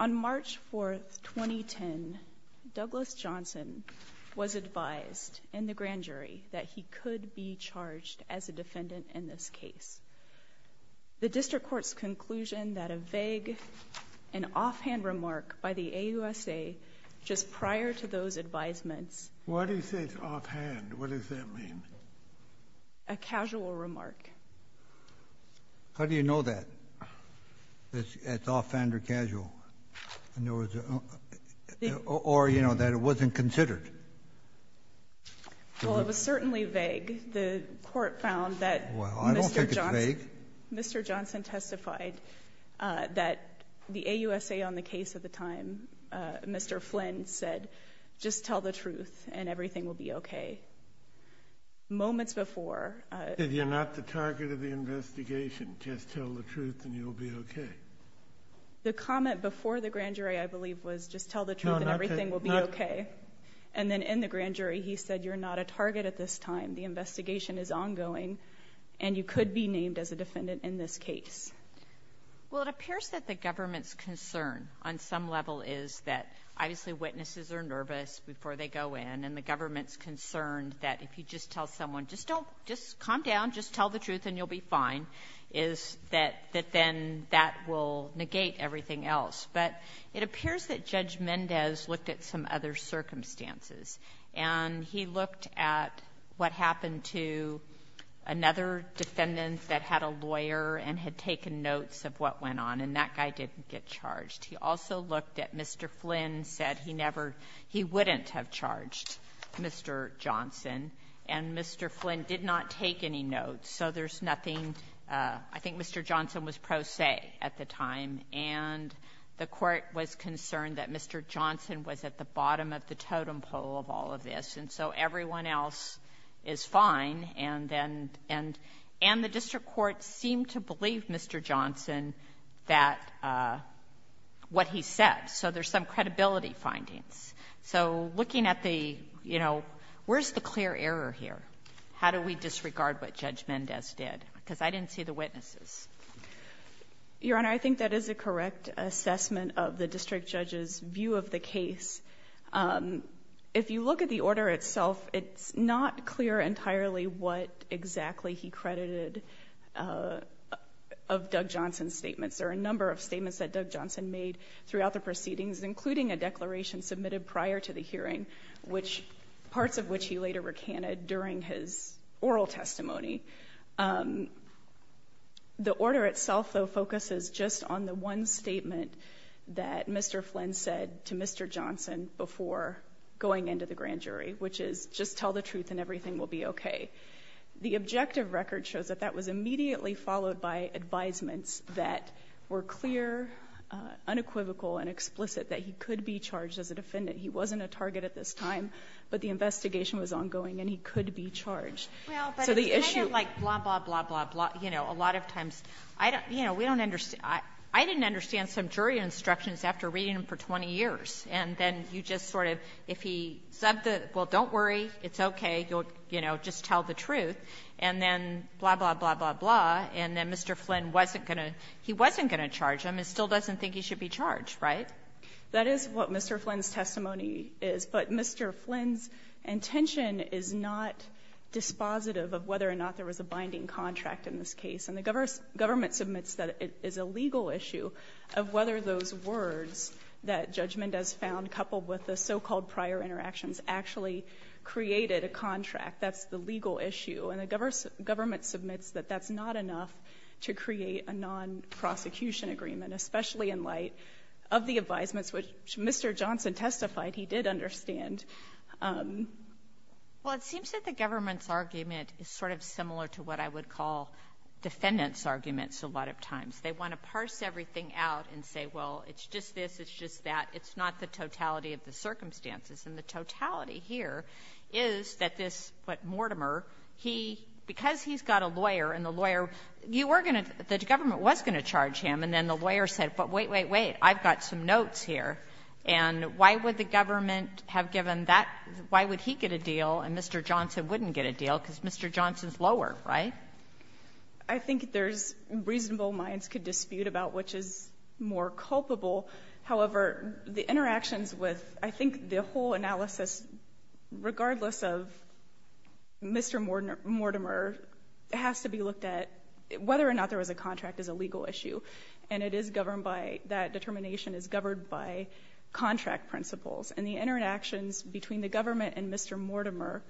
On March 4, 2010, Douglas Johnson was advised in the grand jury that he could be charged as a defendant in this case. The district court's conclusion that a vague and offhand remark by the AUSA just prior to those advisements What is this offhand? What does that mean? A casual remark. How do you know that? That it's offhand or casual? Or, you know, that it wasn't considered? Well, it was certainly vague. The court found that Mr. Johnson testified that the AUSA on the case at the time, Mr. Flynn, said, just tell the truth and everything will be okay. Moments before... If you're not the target of the investigation, just tell the truth and you'll be okay. The comment before the grand jury, I believe, was just tell the truth and everything will be okay. And then in the grand jury, he said, you're not a target at this time. The investigation is ongoing, and you could be named as a defendant in this case. Well, it appears that the government's concern on some level is that obviously witnesses are nervous before they go in, and the government's concerned that if you just tell someone, just don't, just calm down, just tell the truth and you'll be fine, is that then that will negate everything else. But it appears that Judge Mendez looked at some other circumstances, and he looked at what happened to another defendant that had a lawyer and had taken notes of what went on, and that guy didn't get charged. He also looked at Mr. Flynn, said he never he wouldn't have charged Mr. Johnson, and Mr. Flynn did not take any notes. So there's nothing — I think Mr. Johnson was pro se at the time. And the Court was concerned that Mr. Johnson was at the bottom of the totem pole of all of this, and so everyone else is fine, and then — and the district court seemed to believe Mr. Johnson that — what he said. So there's some credibility findings. So looking at the, you know, where's the clear error here? How do we disregard what Judge Mendez did? Because I didn't see the witnesses. Your Honor, I think that is a correct assessment of the district judge's view of the case. If you look at the order itself, it's not clear entirely what exactly he credited of Doug Johnson's statements. There are a number of statements that Doug Johnson made throughout the proceedings, including a declaration submitted prior to the hearing, which — parts of which he later recanted during his oral testimony. The order itself, though, focuses just on the one statement that Mr. Flynn said to Mr. Johnson before going into the grand jury, which is, just tell the truth and everything will be okay. The objective record shows that that was immediately followed by advisements that were clear, unequivocal and explicit that he could be charged as a defendant. He wasn't a target at this time, but the investigation was ongoing and he could be charged. So the issue — Well, but it's kind of like blah, blah, blah, blah, blah. You know, a lot of times, I don't — you know, we don't understand — I didn't understand some jury instructions after reading them for 20 years. And then you just sort of, if he said, well, don't worry, it's okay, you'll, you know, just tell the truth, and then blah, blah, blah, blah, blah, and then Mr. Flynn wasn't going to — he wasn't going to charge him and still doesn't think he should be charged, right? That is what Mr. Flynn's testimony is. But Mr. Flynn's intention is not dispositive of whether or not there was a binding contract in this case. And the government submits that it is a legal issue of whether those words that judgment has found, coupled with the so-called prior interactions, actually created a contract. That's the legal issue. And the government submits that that's not enough to create a non-prosecution agreement, especially in light of the advisements, which Mr. Johnson testified he did understand. Well, it seems that the government's argument is sort of similar to what I would call defendants' arguments a lot of times. They want to parse everything out and say, well, it's just this, it's just that. It's not the totality of the circumstances. And the totality here is that this, what, Mortimer, he — because he's got a lawyer and the lawyer — you were going to — the government was going to charge him, and then the lawyer said, but wait, wait, wait, I've got some notes here. And why would the government have given that — why would he get a deal and Mr. Johnson wouldn't get a deal? Because Mr. Johnson's lower, right? I think there's reasonable minds could dispute about which is more culpable. However, the interactions with — I think the whole analysis, regardless of Mr. Mortimer, has to be looked at — whether or not there was a contract is a legal issue. And it is governed by — that determination is governed by contract principles. And the interactions between the government and Mr. Mortimer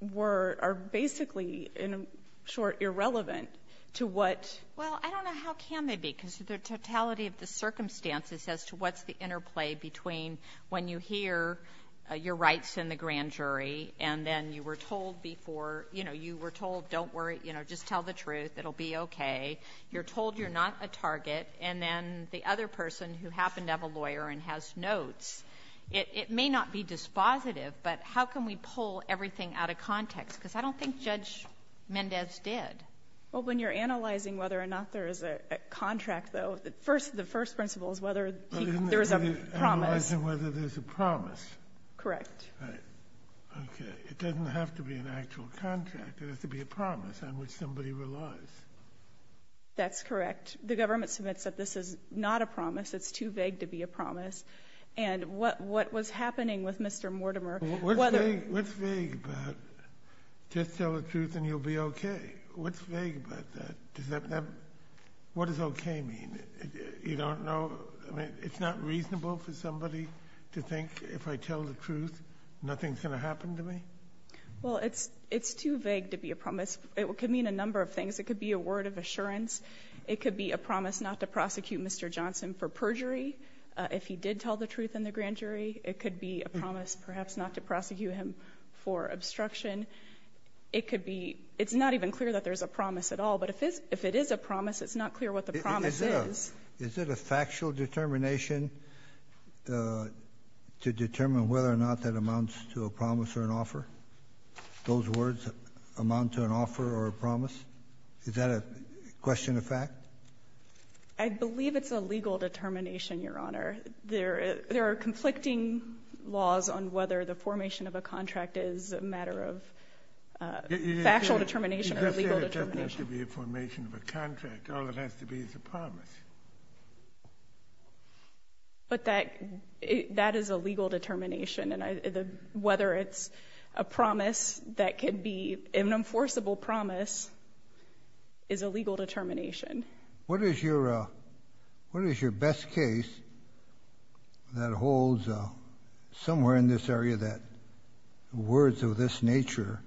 were — are basically, in short, irrelevant to what — Well, I don't know how can they be, because the totality of the circumstances as to what's the interplay between when you hear your rights in the grand jury and then you were told before — you know, you were told, don't worry, you know, just tell the truth, it'll be okay, you're told you're not a target, and then the other person who happened to have a lawyer and has notes, it may not be dispositive, but how can we pull everything out of context? Because I don't think Judge Mendez did. Well, when you're analyzing whether or not there is a contract, though, the first principle is whether there is a promise. Analyzing whether there's a promise. Correct. Right. Okay. It doesn't have to be an actual contract. It has to be a promise on which somebody relies. That's correct. The government submits that this is not a promise. It's too vague to be a promise. And what was happening with Mr. Mortimer — What's vague? What's vague about just tell the truth and you'll be okay? What's vague about that? What does okay mean? You don't know — I mean, it's not reasonable for somebody to think if I tell the truth nothing's going to happen to me. Well, it's too vague to be a promise. It could mean a number of things. It could be a word of assurance. It could be a promise not to prosecute Mr. Johnson for perjury if he did tell the truth in the grand jury. It could be a promise perhaps not to prosecute him for obstruction. It could be — it's not even clear that there's a promise at all. But if it is a promise, it's not clear what the promise is. Is it a factual determination to determine whether or not that amounts to a promise or an offer? Those words amount to an offer or a promise? Is that a question of fact? I believe it's a legal determination, Your Honor. There are conflicting laws on whether the formation of a contract is a matter of factual determination or legal determination. You just said it doesn't have to be a formation of a contract. All it has to be is a promise. But that is a legal determination. Whether it's a promise that could be an enforceable promise is a legal determination. What is your best case that holds somewhere in this area that words of this nature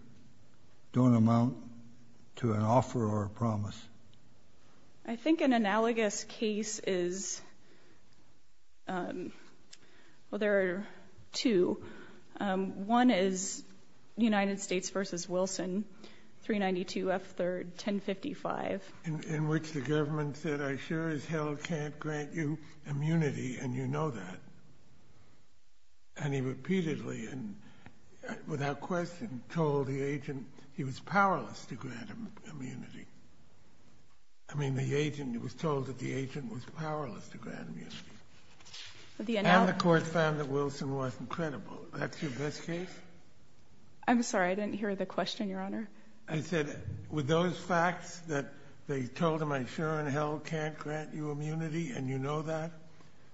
don't amount to an offer or a promise? I think an analogous case is — well, there are two. One is United States v. Wilson, 392 F. 3rd, 1055. In which the government said, I sure as hell can't grant you immunity, and you know that. And he repeatedly and without question told the agent he was powerless to grant him immunity. I mean, the agent was told that the agent was powerless to grant immunity. And the court found that Wilson wasn't credible. That's your best case? I'm sorry, I didn't hear the question, Your Honor. I said, with those facts that they told him, I sure as hell can't grant you immunity, and you know that.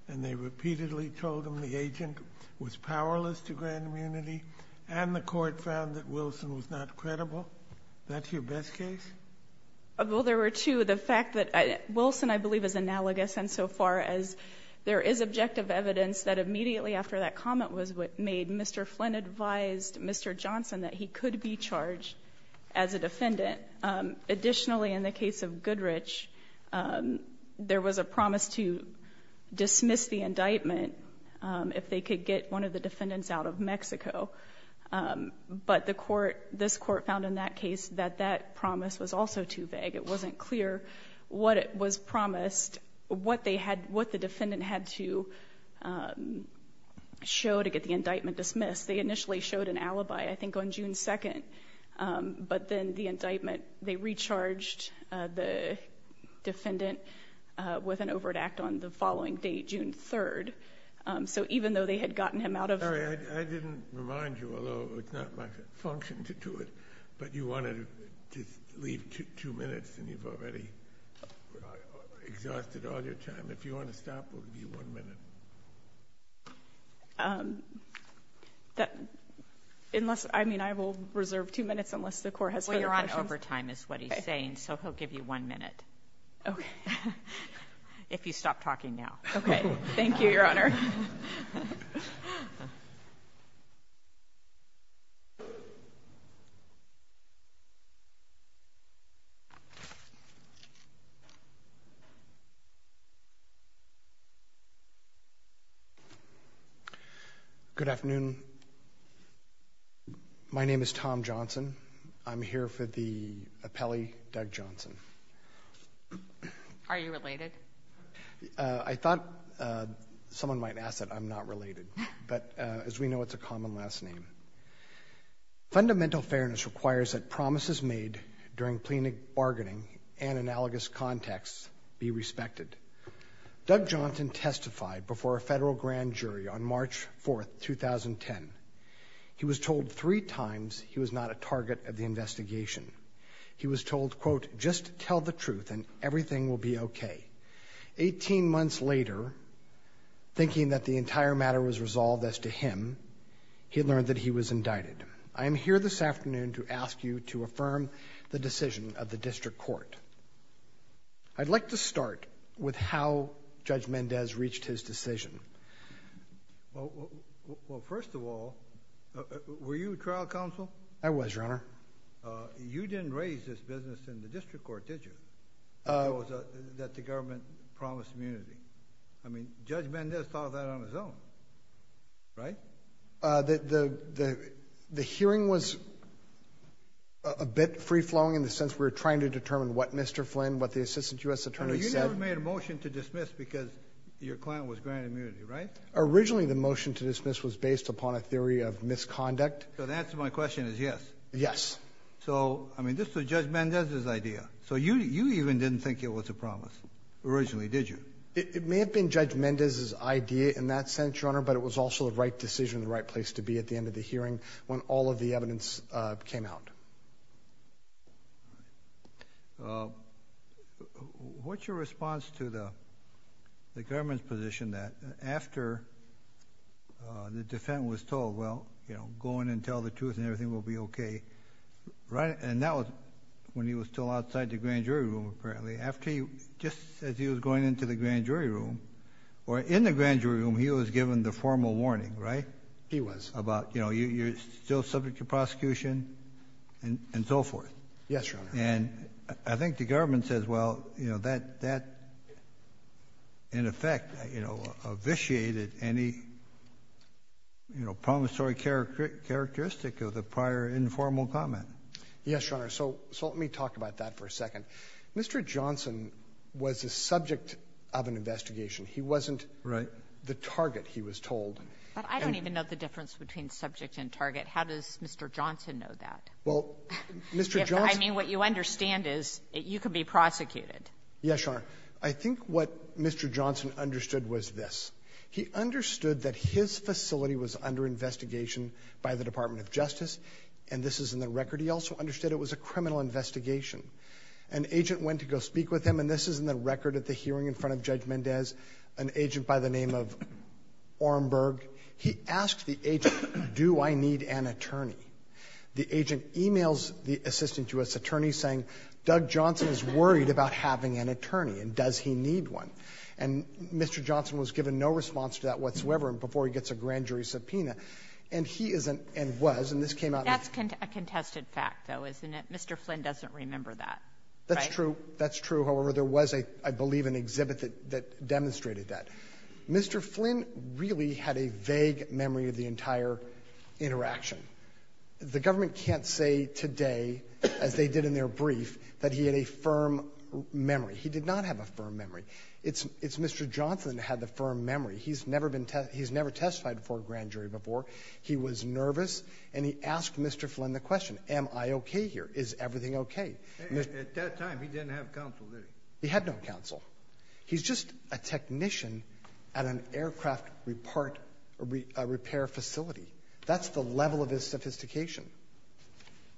And they repeatedly told him the agent was powerless to grant immunity, and the court found that Wilson was not credible. That's your best case? Well, there were two. The fact that Wilson, I believe, is analogous insofar as there is objective evidence that immediately after that comment was made, Mr. Flynn advised Mr. Johnson that he could be charged as a defendant. Additionally, in the case of Goodrich, there was a promise to dismiss the indictment if they could get one of the defendants out of Mexico. But this court found in that case that that promise was also too vague. It wasn't clear what was promised, what the defendant had to show to get the indictment dismissed. They initially showed an alibi, I think, on June 2nd. But then the indictment, they recharged the defendant with an overt act on the following day, June 3rd. So even though they had gotten him out of there. I didn't remind you, although it's not my function to do it, but you wanted to leave two minutes and you've already exhausted all your time. If you want to stop, it will be one minute. Unless, I mean, I will reserve two minutes unless the court has further questions. Well, Your Honor, overtime is what he's saying, so he'll give you one minute. Okay. If you stop talking now. Okay. Thank you, Your Honor. Good afternoon. My name is Tom Johnson. I'm here for the appellee, Doug Johnson. Are you related? I thought someone might ask that I'm not related. But as we know, it's a common last name. Fundamental fairness requires that promises made during plenary bargaining and analogous context be respected. Doug Johnson testified before a federal grand jury on March 4th, 2010. He was told three times he was not a target of the investigation. He was told, quote, just tell the truth and everything will be okay. Eighteen months later, thinking that the entire matter was resolved as to him, he learned that he was indicted. I am here this afternoon to ask you to affirm the decision of the district court. I'd like to start with how Judge Mendez reached his decision. Well, first of all, were you a trial counsel? I was, Your Honor. You didn't raise this business in the district court, did you, that the government promised immunity? I mean, Judge Mendez thought of that on his own, right? The hearing was a bit free-flowing in the sense we were trying to determine what Mr. Flynn, what the assistant U.S. attorney said. You never made a motion to dismiss because your client was granted immunity, right? Originally, the motion to dismiss was based upon a theory of misconduct. So the answer to my question is yes? Yes. So, I mean, this was Judge Mendez's idea. So you even didn't think it was a promise originally, did you? It may have been Judge Mendez's idea in that sense, Your Honor, but it was also the right decision and the right place to be at the end of the hearing when all of the evidence came out. What's your response to the government's position that after the defendant was told, well, you know, go in and tell the truth and everything will be okay, right? And that was when he was still outside the grand jury room, apparently. Just as he was going into the grand jury room, or in the grand jury room, he was given the formal warning, right? He was. About, you know, you're still subject to prosecution and so forth. Yes, Your Honor. And I think the government says, well, you know, that in effect, you know, officiated any, you know, promissory characteristic of the prior informal comment. Yes, Your Honor. So let me talk about that for a second. Mr. Johnson was the subject of an investigation. He wasn't the target, he was told. I don't even know the difference between subject and target. How does Mr. Johnson know that? Well, Mr. Johnson — I mean, what you understand is you could be prosecuted. Yes, Your Honor. I think what Mr. Johnson understood was this. He understood that his facility was under investigation by the Department of Justice, and this is in the record. He also understood it was a criminal investigation. An agent went to go speak with him, and this is in the record at the hearing in front of Judge Mendez, an agent by the name of Ornberg. He asked the agent, do I need an attorney? The agent e-mails the assistant U.S. attorney saying, Doug Johnson is worried about having an attorney, and does he need one? And Mr. Johnson was given no response to that whatsoever, and before he gets a grand jury subpoena, and he isn't and was, and this came out in the — That's a contested fact, though, isn't it? Mr. Flynn doesn't remember that, right? That's true. That's true. However, there was, I believe, an exhibit that demonstrated that. Mr. Flynn really had a vague memory of the entire interaction. The government can't say today, as they did in their brief, that he had a firm memory. He did not have a firm memory. It's Mr. Johnson that had the firm memory. He's never been — he's never testified before a grand jury before. He was nervous, and he asked Mr. Flynn the question, am I okay here? Is everything okay? At that time, he didn't have counsel, did he? He had no counsel. He's just a technician at an aircraft repair facility. That's the level of his sophistication.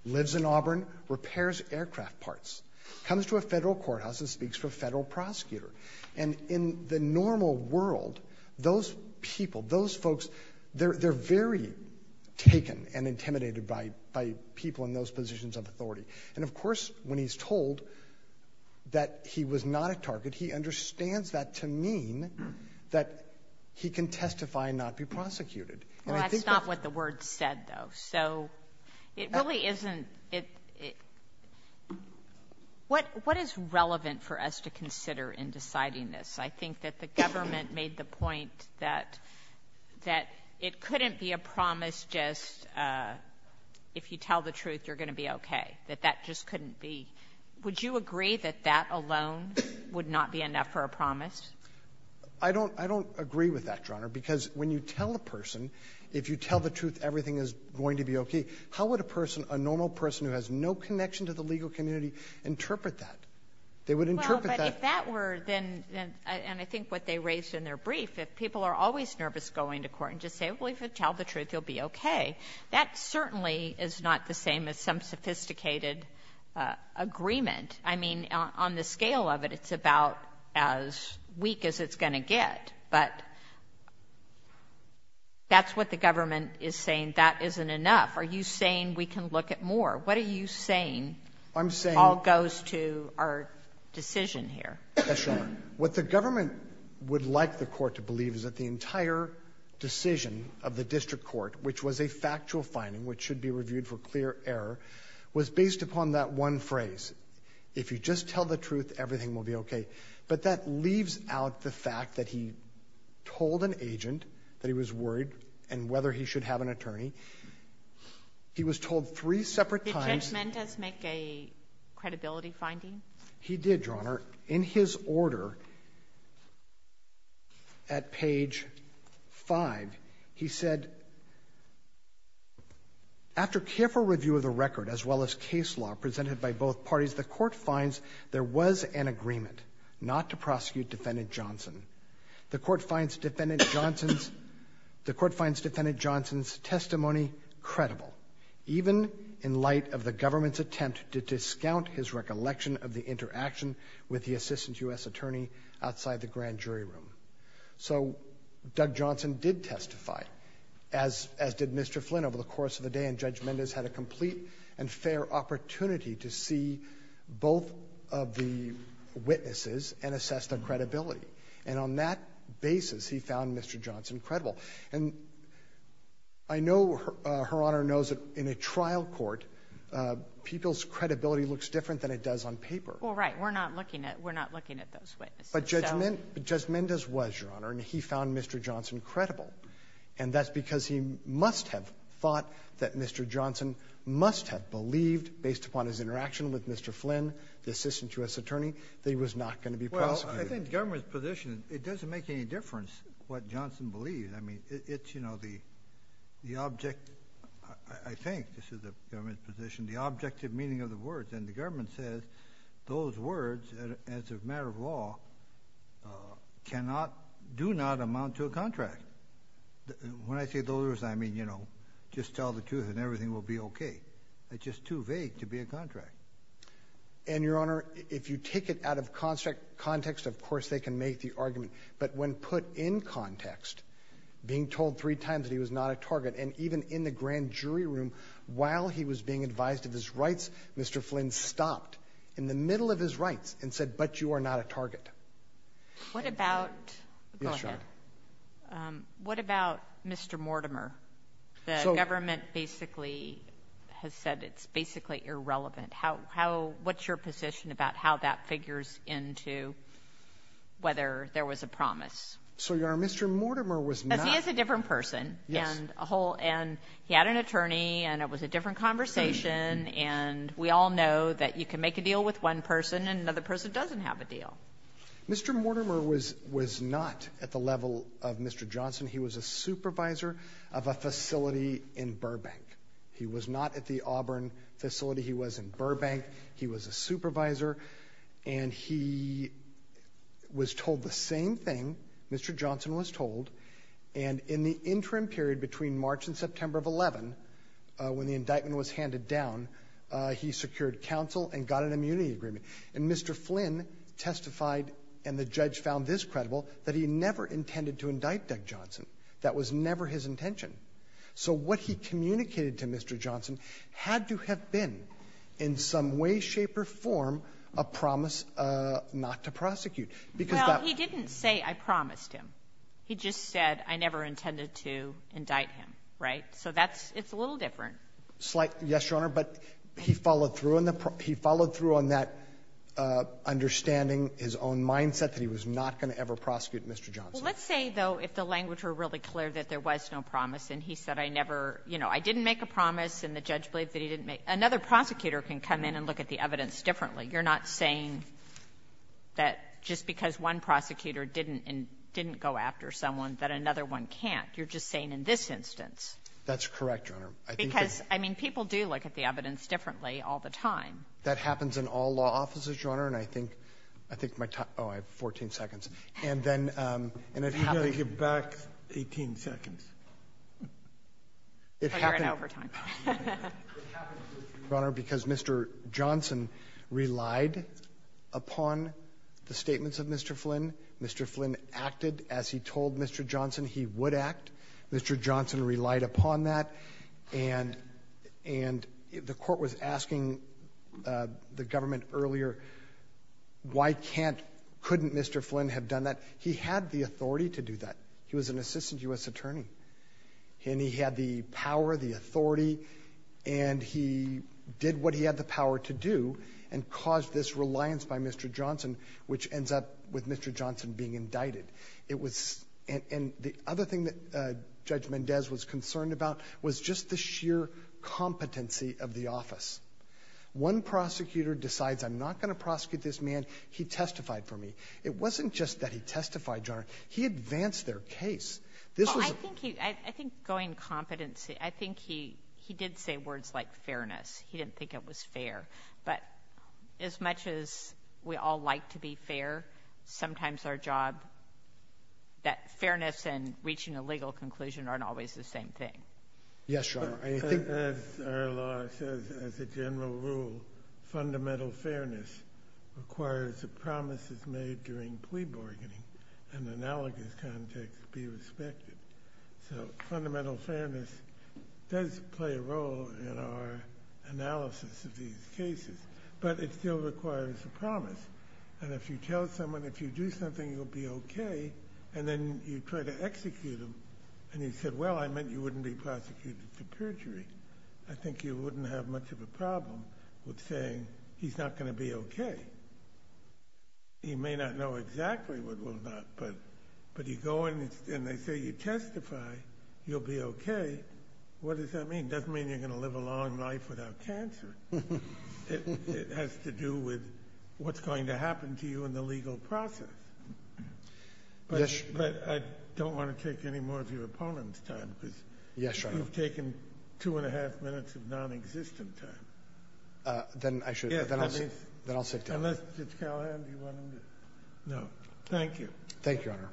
Lives in Auburn, repairs aircraft parts. Comes to a federal courthouse and speaks for a federal prosecutor. And in the normal world, those people, those folks, they're very taken and intimidated by people in those positions of authority. And, of course, when he's told that he was not a target, he understands that to mean that he can testify and not be prosecuted. Well, that's not what the words said, though. So it really isn't — what is relevant for us to consider in deciding this? I think that the government made the point that — that it couldn't be a promise just if you tell the truth, you're going to be okay, that that just couldn't be. Would you agree that that alone would not be enough for a promise? I don't — I don't agree with that, Your Honor, because when you tell a person if you tell the truth everything is going to be okay, how would a person, a normal person who has no connection to the legal community, interpret that? They would interpret that — Well, if that were then — and I think what they raised in their brief, if people are always nervous going to court and just say, well, if you tell the truth, you'll be okay, that certainly is not the same as some sophisticated agreement. I mean, on the scale of it, it's about as weak as it's going to get. But that's what the government is saying. That isn't enough. Are you saying we can look at more? What are you saying — I'm saying — All goes to our decision here. Yes, Your Honor. What the government would like the court to believe is that the entire decision of the district court, which was a factual finding which should be reviewed for clear error, was based upon that one phrase, if you just tell the truth, everything will be okay. But that leaves out the fact that he told an agent that he was worried and whether he should have an attorney. He was told three separate times — Did Judge Mendez make a credibility finding? He did, Your Honor. In his order at page 5, he said, after careful review of the record as well as case law presented by both parties, the court finds there was an agreement not to prosecute Defendant Johnson. The court finds Defendant Johnson's — the court finds Defendant Johnson's testimony credible, even in light of the government's attempt to discount his recollection of the interaction with the assistant U.S. attorney outside the grand jury room. So Doug Johnson did testify, as did Mr. Flynn, over the course of the day. And Judge Mendez had a complete and fair opportunity to see both of the witnesses and assess their credibility. And on that basis, he found Mr. Johnson credible. And I know Her Honor knows that in a trial court, people's credibility looks different than it does on paper. Well, right. We're not looking at — we're not looking at those witnesses. But Judge Mendez was, Your Honor, and he found Mr. Johnson credible. And that's because he must have thought that Mr. Johnson must have believed, based upon his interaction with Mr. Flynn, the assistant U.S. attorney, that he was not going to be prosecuted. Well, I think the government's position, it doesn't make any difference what Johnson believes. I mean, it's, you know, the object — I think this is the government's position — the objective meaning of the words. And the government says those words, as a matter of law, cannot — do not amount to a contract. When I say those words, I mean, you know, just tell the truth and everything will be okay. It's just too vague to be a contract. And, Your Honor, if you take it out of context, of course they can make the argument. But when put in context, being told three times that he was not a target, and even in the grand jury room, while he was being advised of his rights, Mr. Flynn stopped in the middle of his rights and said, but you are not a target. What about — go ahead. Yes, Your Honor. What about Mr. Mortimer? So — The government basically has said it's basically irrelevant. What's your position about how that figures into whether there was a promise? So, Your Honor, Mr. Mortimer was not — Because he is a different person. Yes. And a whole — and he had an attorney, and it was a different conversation. And we all know that you can make a deal with one person and another person doesn't have a deal. Mr. Mortimer was not at the level of Mr. Johnson. He was a supervisor of a facility in Burbank. He was not at the Auburn facility. He was in Burbank. He was a supervisor. And he was told the same thing Mr. Johnson was told, and in the interim period between March and September of 11, when the indictment was handed down, he secured counsel and got an immunity agreement. And Mr. Flynn testified, and the judge found this credible, that he never intended to indict Doug Johnson. That was never his intention. So what he communicated to Mr. Johnson had to have been, in some way, shape, or form, a promise not to prosecute. Because that — Well, he didn't say, I promised him. He just said, I never intended to indict him. Right? So that's — it's a little different. Yes, Your Honor. But he followed through on that understanding, his own mindset, that he was not going to ever prosecute Mr. Johnson. Well, let's say, though, if the language were really clear that there was no promise and he said, I never — you know, I didn't make a promise, and the judge believed that he didn't make — another prosecutor can come in and look at the evidence differently. You're not saying that just because one prosecutor didn't — didn't go after someone that another one can't. You're just saying in this instance. That's correct, Your Honor. Because, I mean, people do look at the evidence differently all the time. That happens in all law offices, Your Honor, and I think — I think my time — oh, I have 14 seconds. And then — You've got to give back 18 seconds. It happened — We're in overtime. It happened, Your Honor, because Mr. Johnson relied upon the statements of Mr. Flynn. Mr. Flynn acted as he told Mr. Johnson he would act. Mr. Johnson relied upon that. And the court was asking the government earlier, why can't — couldn't Mr. Flynn have done that? He had the authority to do that. He was an assistant U.S. attorney. And he had the power, the authority, and he did what he had the power to do and caused this reliance by Mr. Johnson, which ends up with Mr. Johnson being indicted. It was — and the other thing that Judge Mendez was concerned about was just the sheer competency of the office. One prosecutor decides, I'm not going to prosecute this man. He testified for me. It wasn't just that he testified, Your Honor. He advanced their case. This was a — Well, I think he — I think going competency — I think he did say words like fairness. He didn't think it was fair. But as much as we all like to be fair, sometimes our job — that fairness and reaching a legal conclusion aren't always the same thing. Yes, Your Honor. I think — As our law says, as a general rule, fundamental fairness requires that promises made during plea bargaining in an analogous context be respected. So fundamental fairness does play a role in our analysis of these cases, but it still requires a promise. And if you tell someone, if you do something, you'll be okay, and then you try to execute him, and he said, well, I meant you wouldn't be prosecuted for perjury, I think you wouldn't have much of a problem with saying he's not going to be okay. He may not know exactly what will not, but you go in and they say you testify, you'll be okay. What does that mean? It doesn't mean you're going to live a long life without cancer. It has to do with what's going to happen to you in the legal process. Yes, Your Honor. But I don't want to take any more of your opponent's time because — Yes, Your Honor. — you've taken two and a half minutes of nonexistent time. Then I should — Yes. Then I'll sit down. Unless Judge Callahan, do you want him to? No. Thank you. Thank you, Your Honor.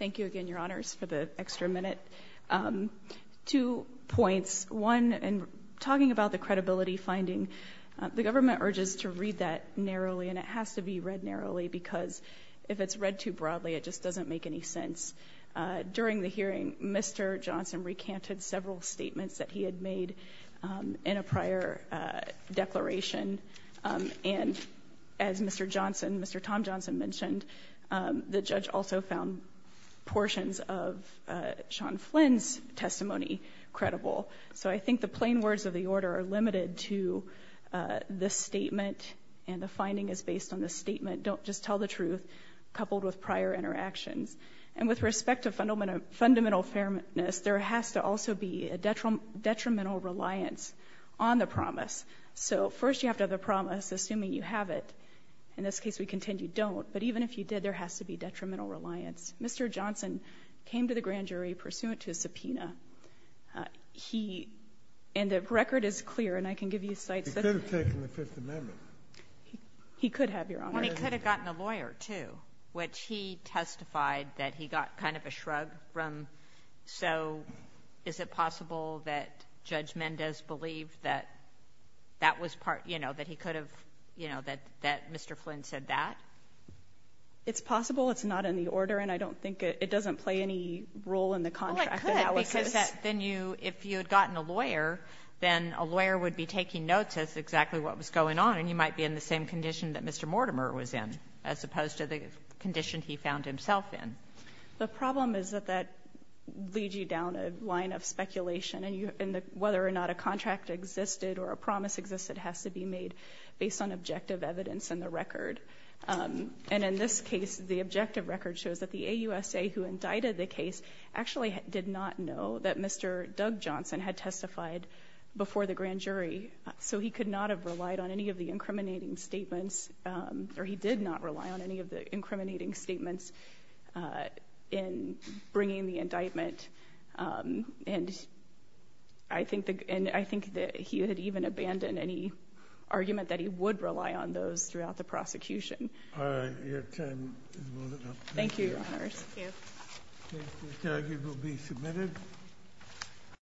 Thank you again, Your Honors, for the extra minute. Two points. One, in talking about the credibility finding, the government urges to read that narrowly, and it has to be read narrowly because if it's read too broadly, it just doesn't make any sense. During the hearing, Mr. Johnson recanted several statements that he had made in a prior declaration. And as Mr. Johnson, Mr. Tom Johnson, mentioned, the judge also found portions of Sean Flynn's testimony credible. So I think the plain words of the order are limited to this statement, and the finding is based on this statement. Don't just tell the truth, coupled with prior interactions. And with respect to fundamental fairness, there has to also be a detrimental reliance on the promise. So first you have to have the promise, assuming you have it. In this case, we contend you don't. But even if you did, there has to be detrimental reliance. Mr. Johnson came to the grand jury pursuant to a subpoena. He — and the record is clear, and I can give you cites that — He could have taken the Fifth Amendment. He could have, Your Honor. Well, he could have gotten a lawyer, too, which he testified that he got kind of a shrug from. So is it possible that Judge Mendez believed that that was part — you know, that he could have — you know, that Mr. Flynn said that? It's possible. It's not in the order, and I don't think it — it doesn't play any role in the contract Well, it could, because then you — if you had gotten a lawyer, then a lawyer would be taking notes as to exactly what was going on, and you might be in the same condition that Mr. Mortimer was in, as opposed to the condition he found himself in. The problem is that that leads you down a line of speculation, and you — and whether or not a contract existed or a promise existed has to be made based on objective evidence in the record. And in this case, the objective record shows that the AUSA who indicted the case actually did not know that Mr. Doug Johnson had testified before the grand jury, so he could not have relied on any of the incriminating statements, or he did not rely on any of the incriminating statements in bringing the indictment. And I think that he had even abandoned any argument that he would rely on those throughout the prosecution. All right. Your time is well enough. Thank you, Your Honors. Thank you. Thank you. The argument will be submitted.